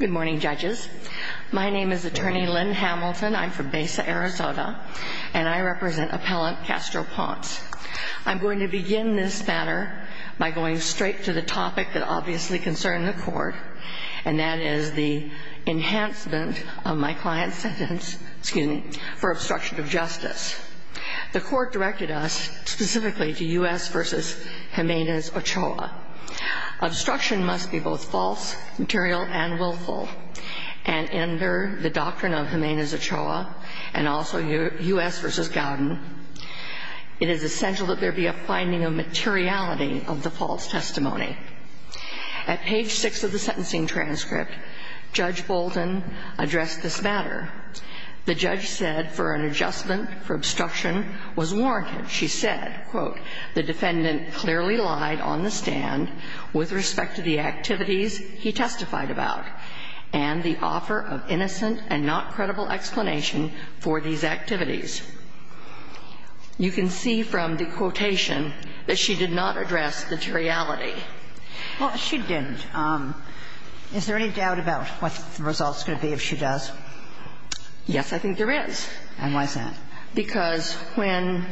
Good morning, judges. My name is attorney Lynn Hamilton. I'm from Besa, Arizona. And I represent appellant Castro-Ponce. I'm going to begin this matter by going straight to the topic that obviously concerns the court, and that is the enhancement of my client's sentence for obstruction of justice. The court directed us specifically to U.S. v. Jimenez-Ochoa. Obstruction must be both false, material, and willful. And under the doctrine of Jimenez-Ochoa, and also U.S. v. Gowden, it is essential that there be a finding of materiality of the false testimony. At page 6 of the sentencing transcript, Judge Bolton addressed this matter. The judge said for an adjustment for obstruction was warranted. She said, quote, the defendant clearly lied on the stand with respect to the activities he testified about and the offer of innocent and not credible explanation for these activities. You can see from the quotation that she did not address materiality. Well, she didn't. Is there any doubt about what the results could be if she does? Yes, I think there is. And why is that? Because when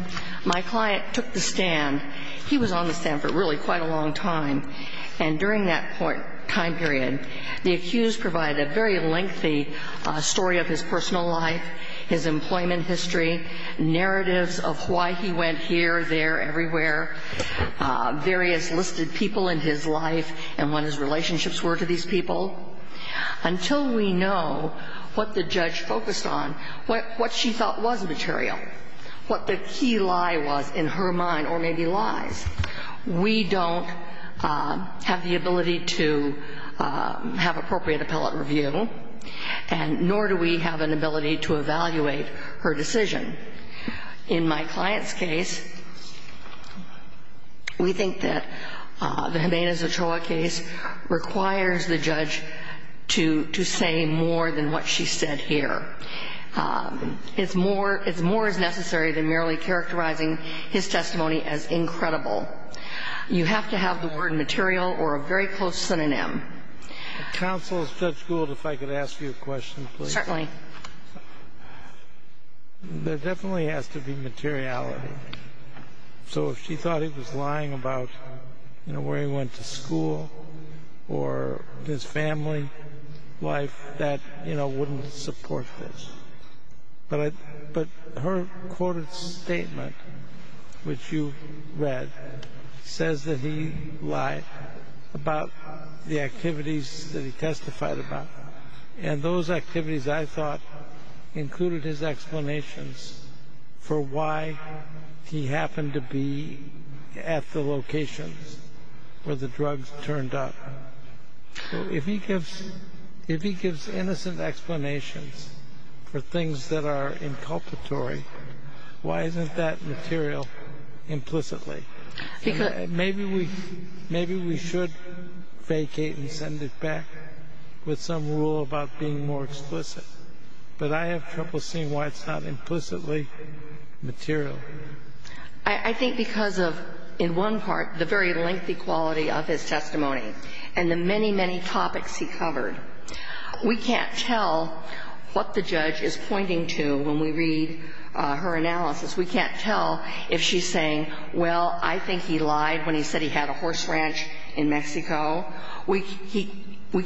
my client took the stand, he was on the stand for really quite a long time. And during that time period, the accused provided a very lengthy story of his personal life, his employment history, narratives of why he went here, there, everywhere, various listed people in his life, and what his relationships were to these people, until we know what the judge focused on, what she thought was material, what the key lie was in her mind, or maybe lies. We don't have the ability to have appropriate appellate review, nor do we have an ability to evaluate her decision. In my client's case, we think that the Jimenez-Ochoa case requires the judge to say more than what she said here. It's more as necessary than merely characterizing his testimony as incredible. You have to have the word material or a very close synonym. Counsel, Judge Gould, if I could ask you a question, please. Certainly. There definitely has to be materiality. So if she thought he was lying about where he went to school or his family life, that wouldn't support this. But her quoted statement, which you read, says that he lied about the activities that he testified about. And those activities, I thought, included his explanations for why he happened to be at the locations where the drugs turned up. If he gives innocent explanations for things that are inculpatory, why isn't that material implicitly? Maybe we should vacate and send it back with some rule about being more explicit. But I have trouble seeing why it's not implicitly material. I think because of, in one part, the very lengthy quality of his testimony and the many, many topics he covered. We can't tell what the judge is pointing to when we read her analysis. We can't tell if she's saying, well, I think he lied when he said he had a horse ranch in Mexico. We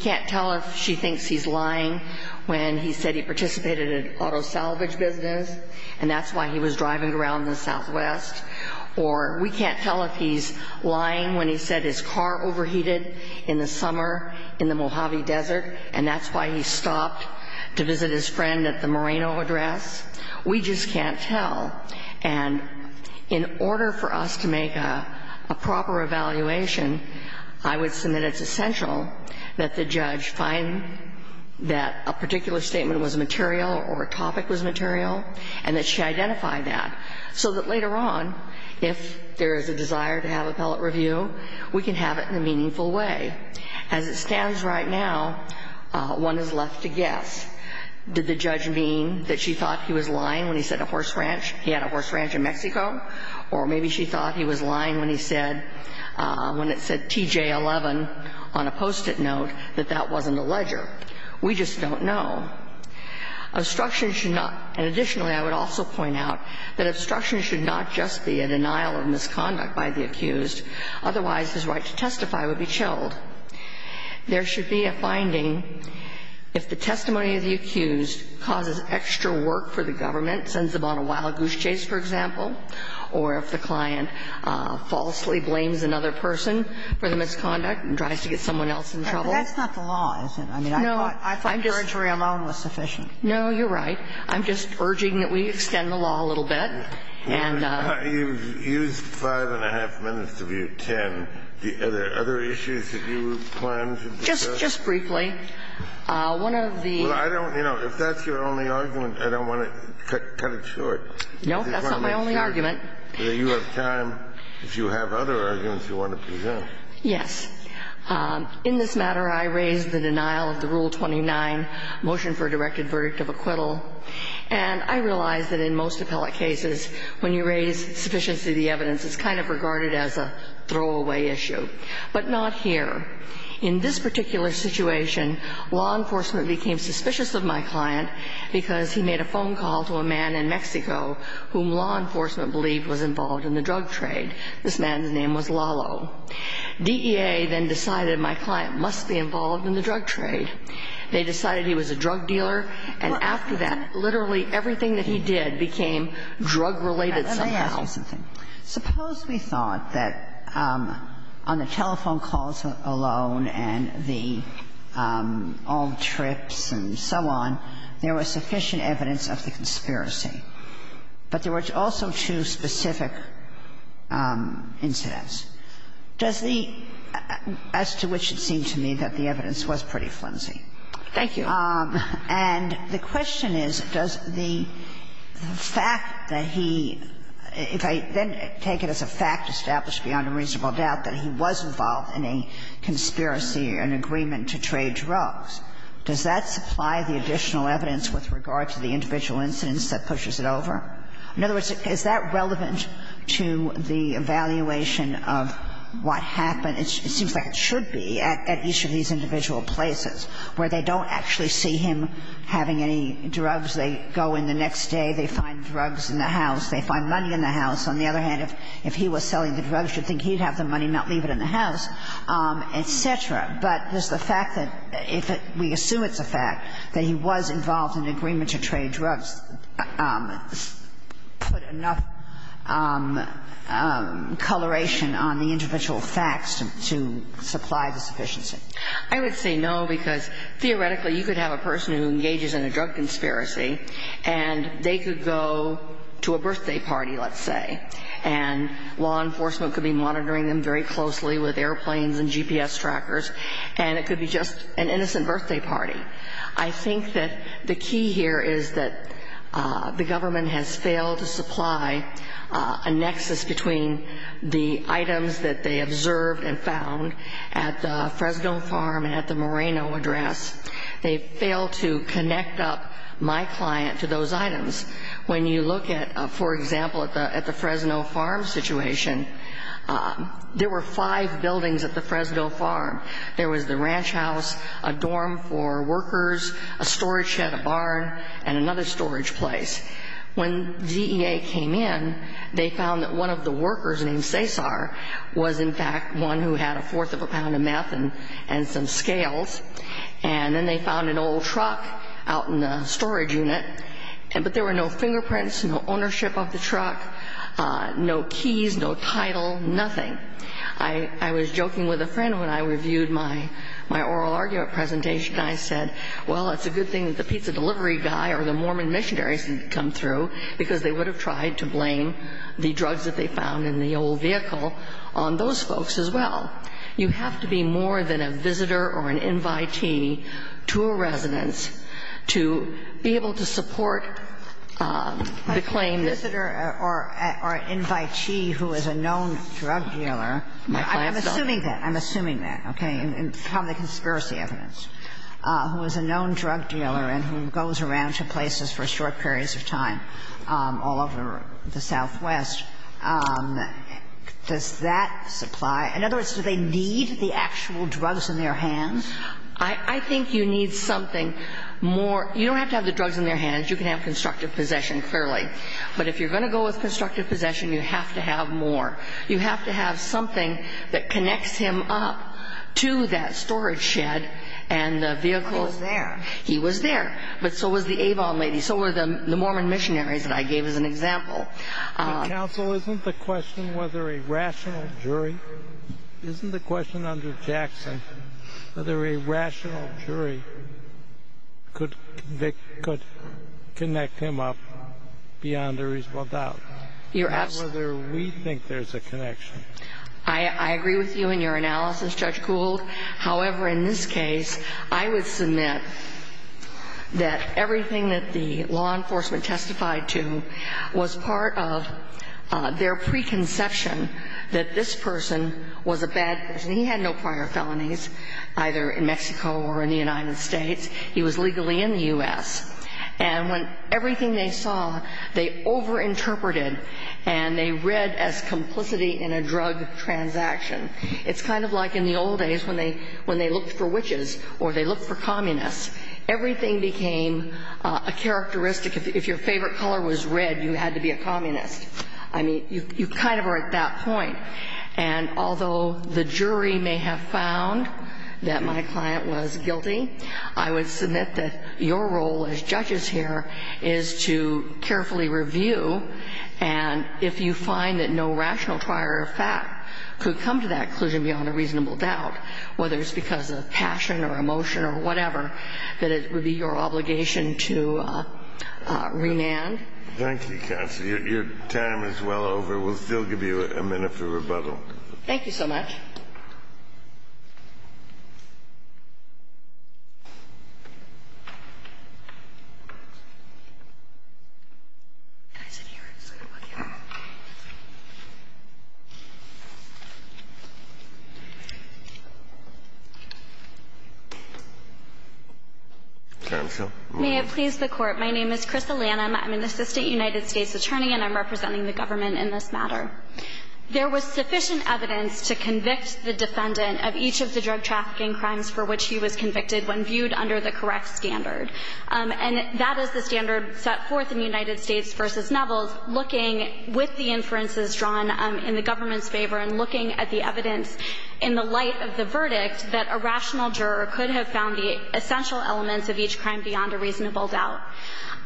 can't tell if she thinks he's lying when he said he participated in auto salvage business and that's why he was driving around in the Southwest. Or we can't tell if he's lying when he said his car overheated in the summer in the Mojave Desert and that's why he stopped to visit his friend at the Moreno address. We just can't tell. And in order for us to make a proper evaluation, I would say that it's essential that the judge find that a particular statement was material or a topic was material and that she identify that so that later on, if there is a desire to have appellate review, we can have it in a meaningful way. And we can't tell if she's saying, well, I think he lied when he said he had a horse ranch in Mexico. Or maybe she thought he was lying when he said, when it said TJ11 on a Post-it note, that that wasn't a ledger. We just don't know. Obstruction should not, and additionally, I would also point out that obstruction should not just be a denial of misconduct by the accused. Otherwise, his right to testify would be chilled. There should be a finding if the testimony of the accused causes extra work for the government, sends them on a wild goose chase, for example, or if the client falsely blames another person for the misconduct and tries to get someone else in trouble. But that's not the law, is it? I mean, I thought your interview alone was sufficient. No, you're right. I'm just urging that we extend the law a little bit. You've used five and a half minutes to view ten. Are there other issues that you plan to discuss? Just briefly. Well, I don't, you know, if that's your only argument, I don't want to cut it short. No, that's not my only argument. You have time. If you have other arguments you want to present. Yes. In this matter, I raised the denial of the Rule 29, motion for a directed verdict of acquittal. And I realize that in most appellate cases, when you raise sufficiency of the evidence, it's kind of regarded as a throwaway issue, but not here. In this particular situation, law enforcement became suspicious of my client because he made a phone call to a man in Mexico whom law enforcement believed was involved in the drug trade. This man's name was Lalo. DEA then decided my client must be involved in the drug trade. They decided he was a drug dealer. And after that, literally everything that he did became drug-related somehow. Let me ask you something. Suppose we thought that on the telephone calls alone and the all trips and so on, there was sufficient evidence of the conspiracy, but there were also two specific incidents. As to which it seemed to me that the evidence was pretty flimsy. Thank you. And the question is, does the fact that he, if I then take it as a fact established beyond a reasonable doubt that he was involved in a conspiracy, an agreement to trade drugs, does that supply the additional evidence with regard to the individual incidents that pushes it over? In other words, is that relevant to the evaluation of what happened? It seems like it should be at each of these individual places, where they don't actually see him having any drugs. They go in the next day. They find drugs in the house. They find money in the house. On the other hand, if he was selling the drugs, you'd think he'd have the money, not leave it in the house, et cetera. But does the fact that if we assume it's a fact that he was involved in an agreement to trade drugs put enough coloration on the individual facts to supply the sufficiency? I would say no, because theoretically, you could have a person who engages in a drug conspiracy, and they could go to a birthday party, let's say, and law enforcement could be monitoring them very closely with airplanes and GPS trackers. And it could be just an innocent birthday party. I think that the key here is that the government has failed to supply a nexus between the items that they observed and found at the Fresno farm and at the Moreno address. They failed to connect up my client to those items. When you look at, for example, at the Fresno farm situation, there were five buildings at the Fresno farm. There was the ranch house, a dorm for workers, a storage shed, a barn, and another storage place. When DEA came in, they found that one of the workers named Cesar was, in fact, one who had a fourth of a pound of meth and some scales. And then they found an old truck out in the storage unit. But there were no fingerprints, no ownership of the truck, no keys, no title, nothing. I was joking with a friend when I reviewed my oral argument presentation. I said, well, it's a good thing that the pizza delivery guy or the Mormon missionaries didn't come through because they would have tried to blame the drugs that they found in the old vehicle on those folks as well. And so I'm asking, you know, you have to be more than a visitor or an invitee to a residence to be able to support the claim that you're going to find a drug dealer. You have to be more than a visitor or an invitee to a residence to be able to support In other words, do they need the actual drugs in their hands? I think you need something more. You don't have to have the drugs in their hands. You can have constructive possession, clearly. But if you're going to go with constructive possession, you have to have more. You have to have something that connects him up to that storage shed and the vehicle. He was there. He was there. But so was the Avon lady. So were the Mormon missionaries that I gave as an example. Counsel, isn't the question whether a rational jury, isn't the question under Jackson, whether a rational jury could connect him up beyond a reasonable doubt? Whether we think there's a connection. I agree with you in your analysis, Judge Gould. However, in this case, I would submit that everything that the law enforcement testified to was part of their preconception that this person was a bad person. He had no prior felonies, either in Mexico or in the United States. He was legally in the U.S. And when everything they saw, they overinterpreted and they read as complicity in a drug transaction. It's kind of like in the old days when they looked for witches or they looked for communists. Everything became a characteristic. If your favorite color was red, you had to be a communist. I mean, you kind of are at that point. And although the jury may have found that my client was guilty, I would submit that your role as judges here is to carefully review. And if you find that no rational prior fact could come to that conclusion beyond a reasonable doubt, whether it's because of passion or emotion or whatever, that it would be your obligation to remand. Thank you, Counsel. Your time is well over. We'll still give you a minute for rebuttal. Thank you so much. May it please the Court. My name is Chris Alanum. I'm an assistant United States attorney, and I'm representing the government in this matter. There was sufficient evidence to convict the defendant of each of the drug trafficking crimes for which he was convicted when viewed under the correct standard. And that is the standard set forth in United States v. Neville, looking with the inferences drawn in the government's favor and looking at the evidence in the light of the verdict that a rational juror could have found the essential elements of each crime beyond a reasonable doubt.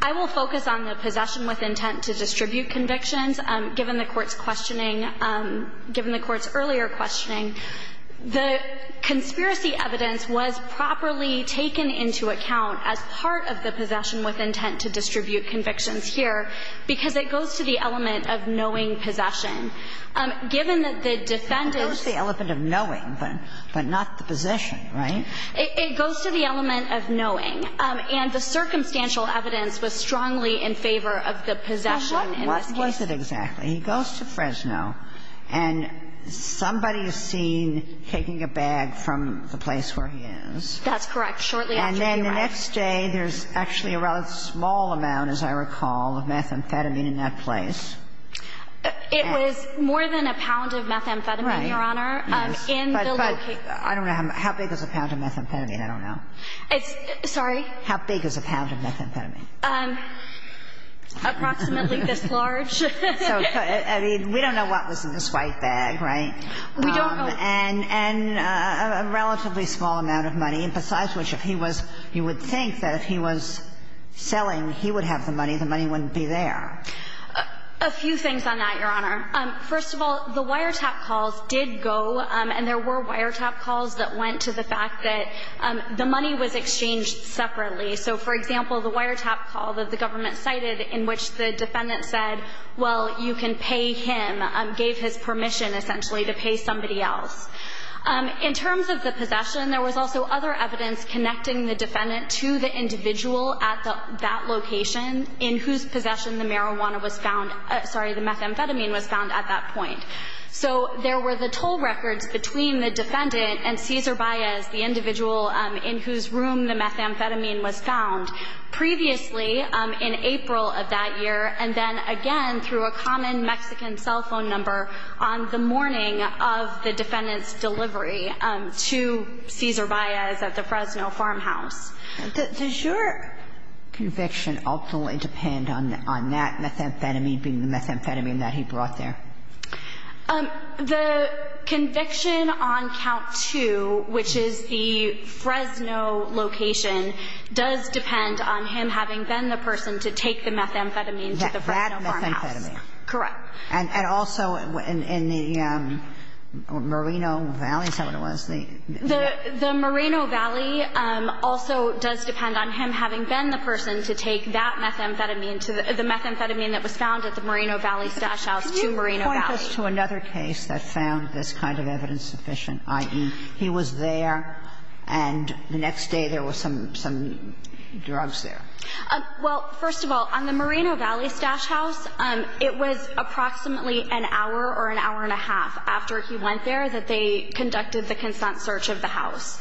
I will focus on the possession with intent to distribute convictions. Given the Court's questioning – given the Court's earlier questioning, the conspiracy evidence was properly taken into account as part of the possession with intent to distribute convictions here because it goes to the element of knowing possession. Given that the defendant's – Not the possession, right? It goes to the element of knowing. And the circumstantial evidence was strongly in favor of the possession in this case. What was it exactly? He goes to Fresno, and somebody is seen taking a bag from the place where he is. That's correct. Shortly after he arrived. And then the next day, there's actually a rather small amount, as I recall, of methamphetamine in that place. It was more than a pound of methamphetamine, Your Honor. Right. In the location. I don't know. How big is a pound of methamphetamine? I don't know. How big is a pound of methamphetamine? Approximately this large. I mean, we don't know what was in this white bag, right? We don't know. And a relatively small amount of money. And besides which, if he was – you would think that if he was selling, he would have the money. The money wouldn't be there. A few things on that, Your Honor. First of all, the wiretap calls did go. And there were wiretap calls that went to the fact that the money was exchanged separately. So, for example, the wiretap call that the government cited in which the defendant said, well, you can pay him, gave his permission, essentially, to pay somebody else. In terms of the possession, there was also other evidence connecting the defendant to the individual at that location in whose possession the marijuana was found – sorry, the methamphetamine was found at that point. So there were the toll records between the defendant and Cesar Baez, the individual in whose room the methamphetamine was found, previously in April of that year, and then again through a common Mexican cell phone number on the morning of the defendant's delivery to Cesar Baez at the Fresno farmhouse. Does your conviction ultimately depend on that methamphetamine being the methamphetamine that he brought there? The conviction on count two, which is the Fresno location, does depend on him having been the person to take the methamphetamine to the Fresno farmhouse. That methamphetamine. Correct. And also in the Moreno Valley, is that what it was? The Moreno Valley also does depend on him having been the person to take that methamphetamine to the methamphetamine that was found at the Moreno Valley stash house to Moreno Valley. Can you point us to another case that found this kind of evidence sufficient, i.e., he was there and the next day there was some drugs there? Well, first of all, on the Moreno Valley stash house, it was approximately an hour or an hour and a half after he went there that they conducted the consent search of the house.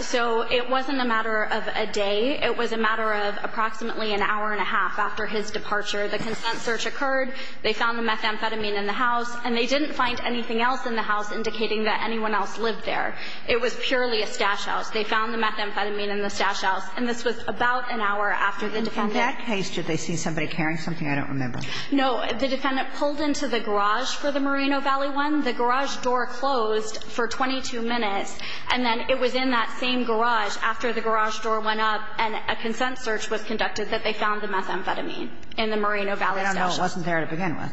So it wasn't a matter of a day. It was a matter of approximately an hour and a half after his departure. The consent search occurred. They found the methamphetamine in the house. And they didn't find anything else in the house indicating that anyone else lived there. It was purely a stash house. They found the methamphetamine in the stash house. And this was about an hour after the defendant. In that case, did they see somebody carrying something? I don't remember. No. The defendant pulled into the garage for the Moreno Valley one. The garage door closed for 22 minutes. And then it was in that same garage after the garage door went up and a consent search was conducted that they found the methamphetamine in the Moreno Valley stash house. I don't know. It wasn't there to begin with.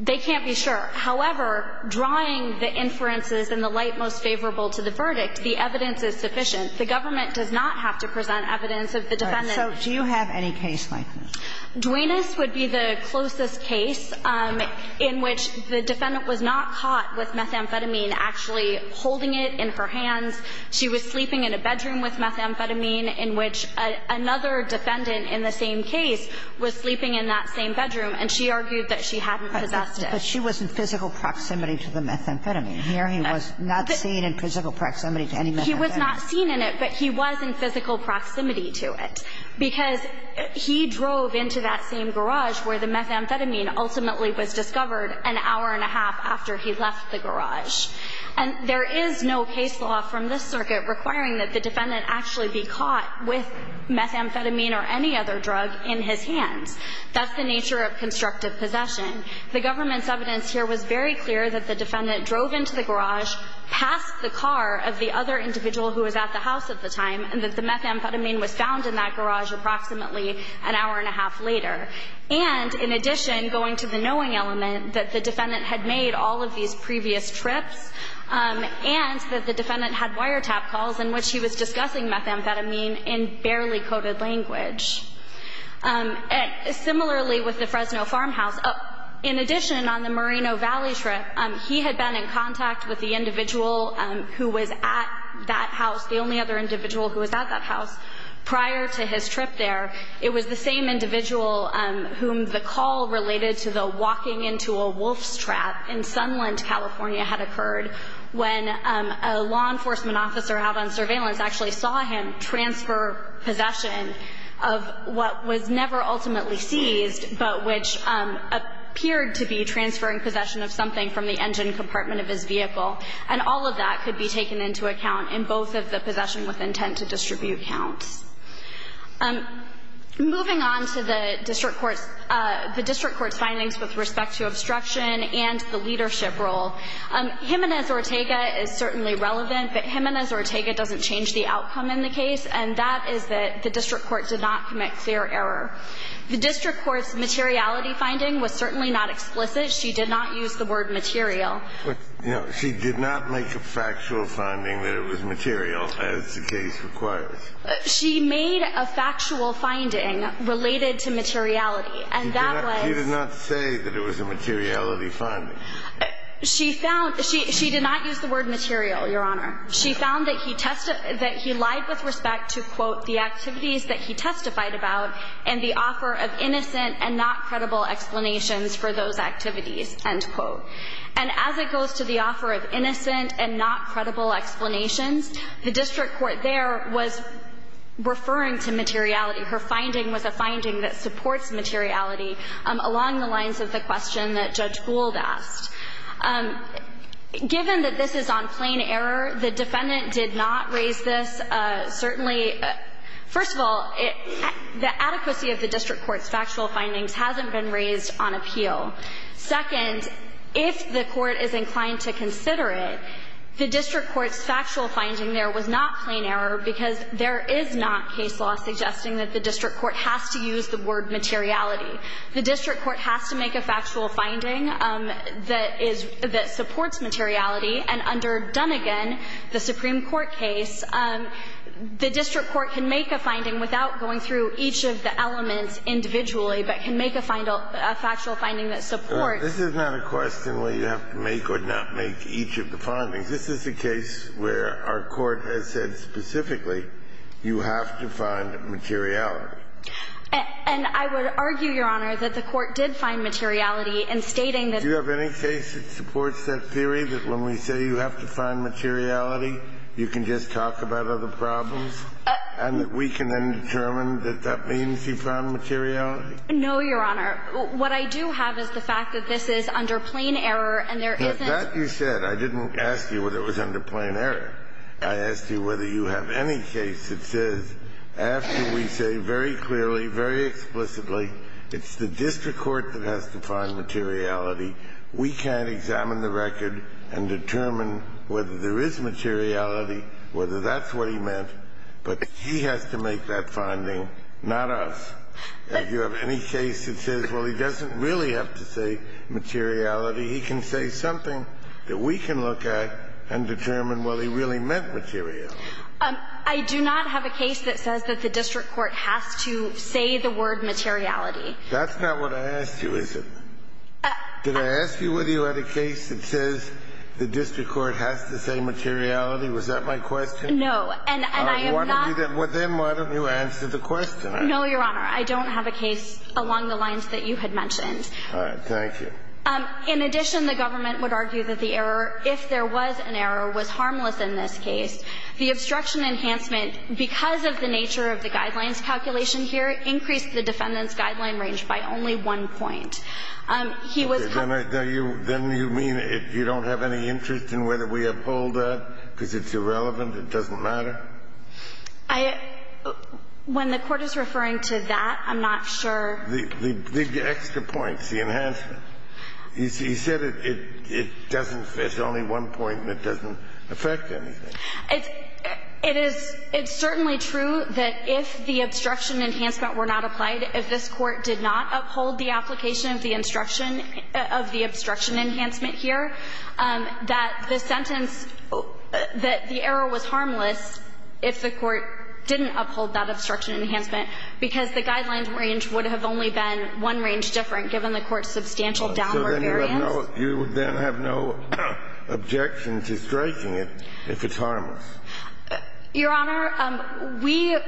They can't be sure. However, drawing the inferences in the light most favorable to the verdict, the evidence is sufficient. The government does not have to present evidence of the defendant. So do you have any case like this? Duenas would be the closest case in which the defendant was not caught with methamphetamine actually holding it in her hands. She was sleeping in a bedroom with methamphetamine in which another defendant in the same case was sleeping in that same bedroom. And she argued that she hadn't possessed it. But she was in physical proximity to the methamphetamine. Here he was not seen in physical proximity to any methamphetamine. He was not seen in it, but he was in physical proximity to it. Because he drove into that same garage where the methamphetamine ultimately was discovered an hour and a half after he left the garage. And there is no case law from this circuit requiring that the defendant actually be caught with methamphetamine or any other drug in his hands. That's the nature of constructive possession. The government's evidence here was very clear that the defendant drove into the garage, passed the car of the other individual who was at the house at the time, and that the methamphetamine was found in that garage approximately an hour and a half later. And in addition, going to the knowing element, that the defendant had made all of these previous trips and that the defendant had wiretap calls in which he was discussing methamphetamine in barely coded language. Similarly, with the Fresno farmhouse, in addition, on the Moreno Valley trip, he had been in contact with the individual who was at that house, the only other individual who was at that house prior to his trip there. It was the same individual whom the call related to the walking into a wolf's trap in Sunland, California, had occurred when a law enforcement officer out on surveillance actually saw him transfer possession of what was never ultimately seized, but which appeared to be transferring possession of something from the engine compartment of his vehicle. And all of that could be taken into account in both of the possession with intent to distribute counts. Moving on to the district court's findings with respect to obstruction and the leadership role. Jimenez-Ortega is certainly relevant, but Jimenez-Ortega doesn't change the outcome in the case, and that is that the district court did not commit fair error. The district court's materiality finding was certainly not explicit. She did not use the word material. She did not make a factual finding that it was material, as the case requires. She made a factual finding related to materiality. She did not say that it was a materiality finding. She did not use the word material, Your Honor. She found that he lied with respect to, quote, the activities that he testified about and the offer of innocent and not credible explanations for those activities, end quote. And as it goes to the offer of innocent and not credible explanations, the district court there was referring to materiality. Her finding was a finding that supports materiality along the lines of the question that Judge Gould asked. Given that this is on plain error, the defendant did not raise this. Certainly, first of all, the adequacy of the district court's factual findings hasn't been raised on appeal. Second, if the court is inclined to consider it, the district court's factual finding there was not plain error because there is not case law suggesting that the district court has to use the word materiality. The district court has to make a factual finding that is – that supports materiality. And under Dunnegan, the Supreme Court case, the district court can make a finding without going through each of the elements individually, but can make a factual finding that supports – This is not a question where you have to make or not make each of the findings. This is a case where our court has said specifically you have to find materiality. And I would argue, Your Honor, that the court did find materiality in stating that – Do you have any case that supports that theory, that when we say you have to find materiality, you can just talk about other problems, and that we can then determine that that means you found materiality? No, Your Honor. What I do have is the fact that this is under plain error, and there isn't – That you said. I didn't ask you whether it was under plain error. I asked you whether you have any case that says, after we say very clearly, very explicitly, it's the district court that has to find materiality, we can't examine the record and determine whether there is materiality, whether that's what he meant, but he has to make that finding, not us. Do you have any case that says, well, he doesn't really have to say materiality, he can say something that we can look at and determine whether he really meant materiality? I do not have a case that says that the district court has to say the word materiality. That's not what I asked you, is it? Did I ask you whether you had a case that says the district court has to say materiality? Was that my question? No. And I am not – Then why don't you answer the question? No, Your Honor. I don't have a case along the lines that you had mentioned. All right. Thank you. In addition, the government would argue that the error, if there was an error, was harmless in this case. The obstruction enhancement, because of the nature of the guidelines calculation here, increased the defendant's guideline range by only one point. He was – Then you mean you don't have any interest in whether we uphold that because it's irrelevant, it doesn't matter? I – when the Court is referring to that, I'm not sure. The extra points, the enhancement. He said it doesn't – there's only one point that doesn't affect anything. It is – it's certainly true that if the obstruction enhancement were not applied, if this Court did not uphold the application of the instruction of the obstruction enhancement here, that the sentence – that the error was harmless if the Court didn't uphold that obstruction enhancement, because the guidelines range would have only been one range different, given the Court's substantial downward variance. So then you have no – you then have no objection to striking it if it's harmless? Your Honor, we –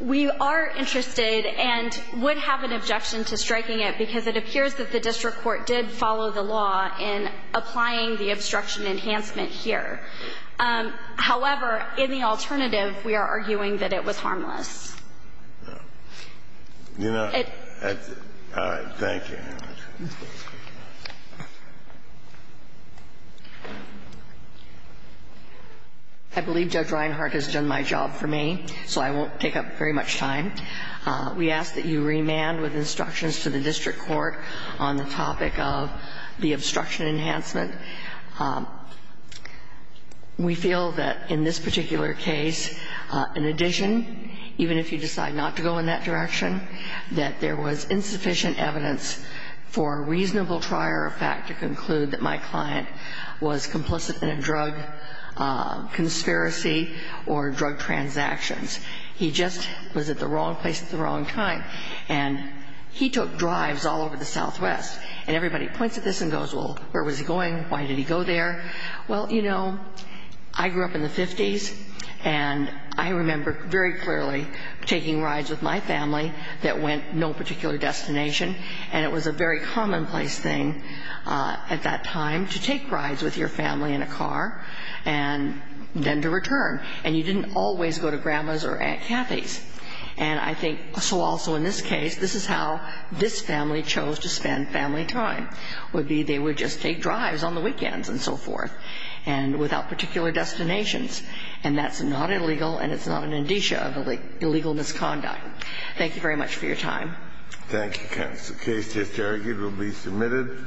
we are interested and would have an objection to striking it because it appears that the district court did follow the law in applying the obstruction enhancement here. However, in the alternative, we are arguing that it was harmless. All right. Thank you, Your Honor. I believe Judge Reinhart has done my job for me, so I won't take up very much time. We ask that you remand with instructions to the district court on the topic of the obstruction enhancement. We feel that in this particular case, in addition, even if you decide not to go in that direction, that there was insufficient evidence for a reasonable trier of fact to conclude that my client was complicit in a drug conspiracy or drug transactions. He just was at the wrong place at the wrong time. And he took drives all over the Southwest. And everybody points at this and goes, well, where was he going? Why did he go there? Well, you know, I grew up in the 50s, and I remember very clearly taking rides with my family that went no particular destination. And it was a very commonplace thing at that time to take rides with your family in a car and then to return. And you didn't always go to Grandma's or Aunt Kathy's. And I think so also in this case, this is how this family chose to spend family time, would be they would just take drives on the weekends and so forth and without particular destinations. And that's not illegal, and it's not an indicia of illegal misconduct. Thank you very much for your time. Thank you, counsel. The case is derogated and will be submitted.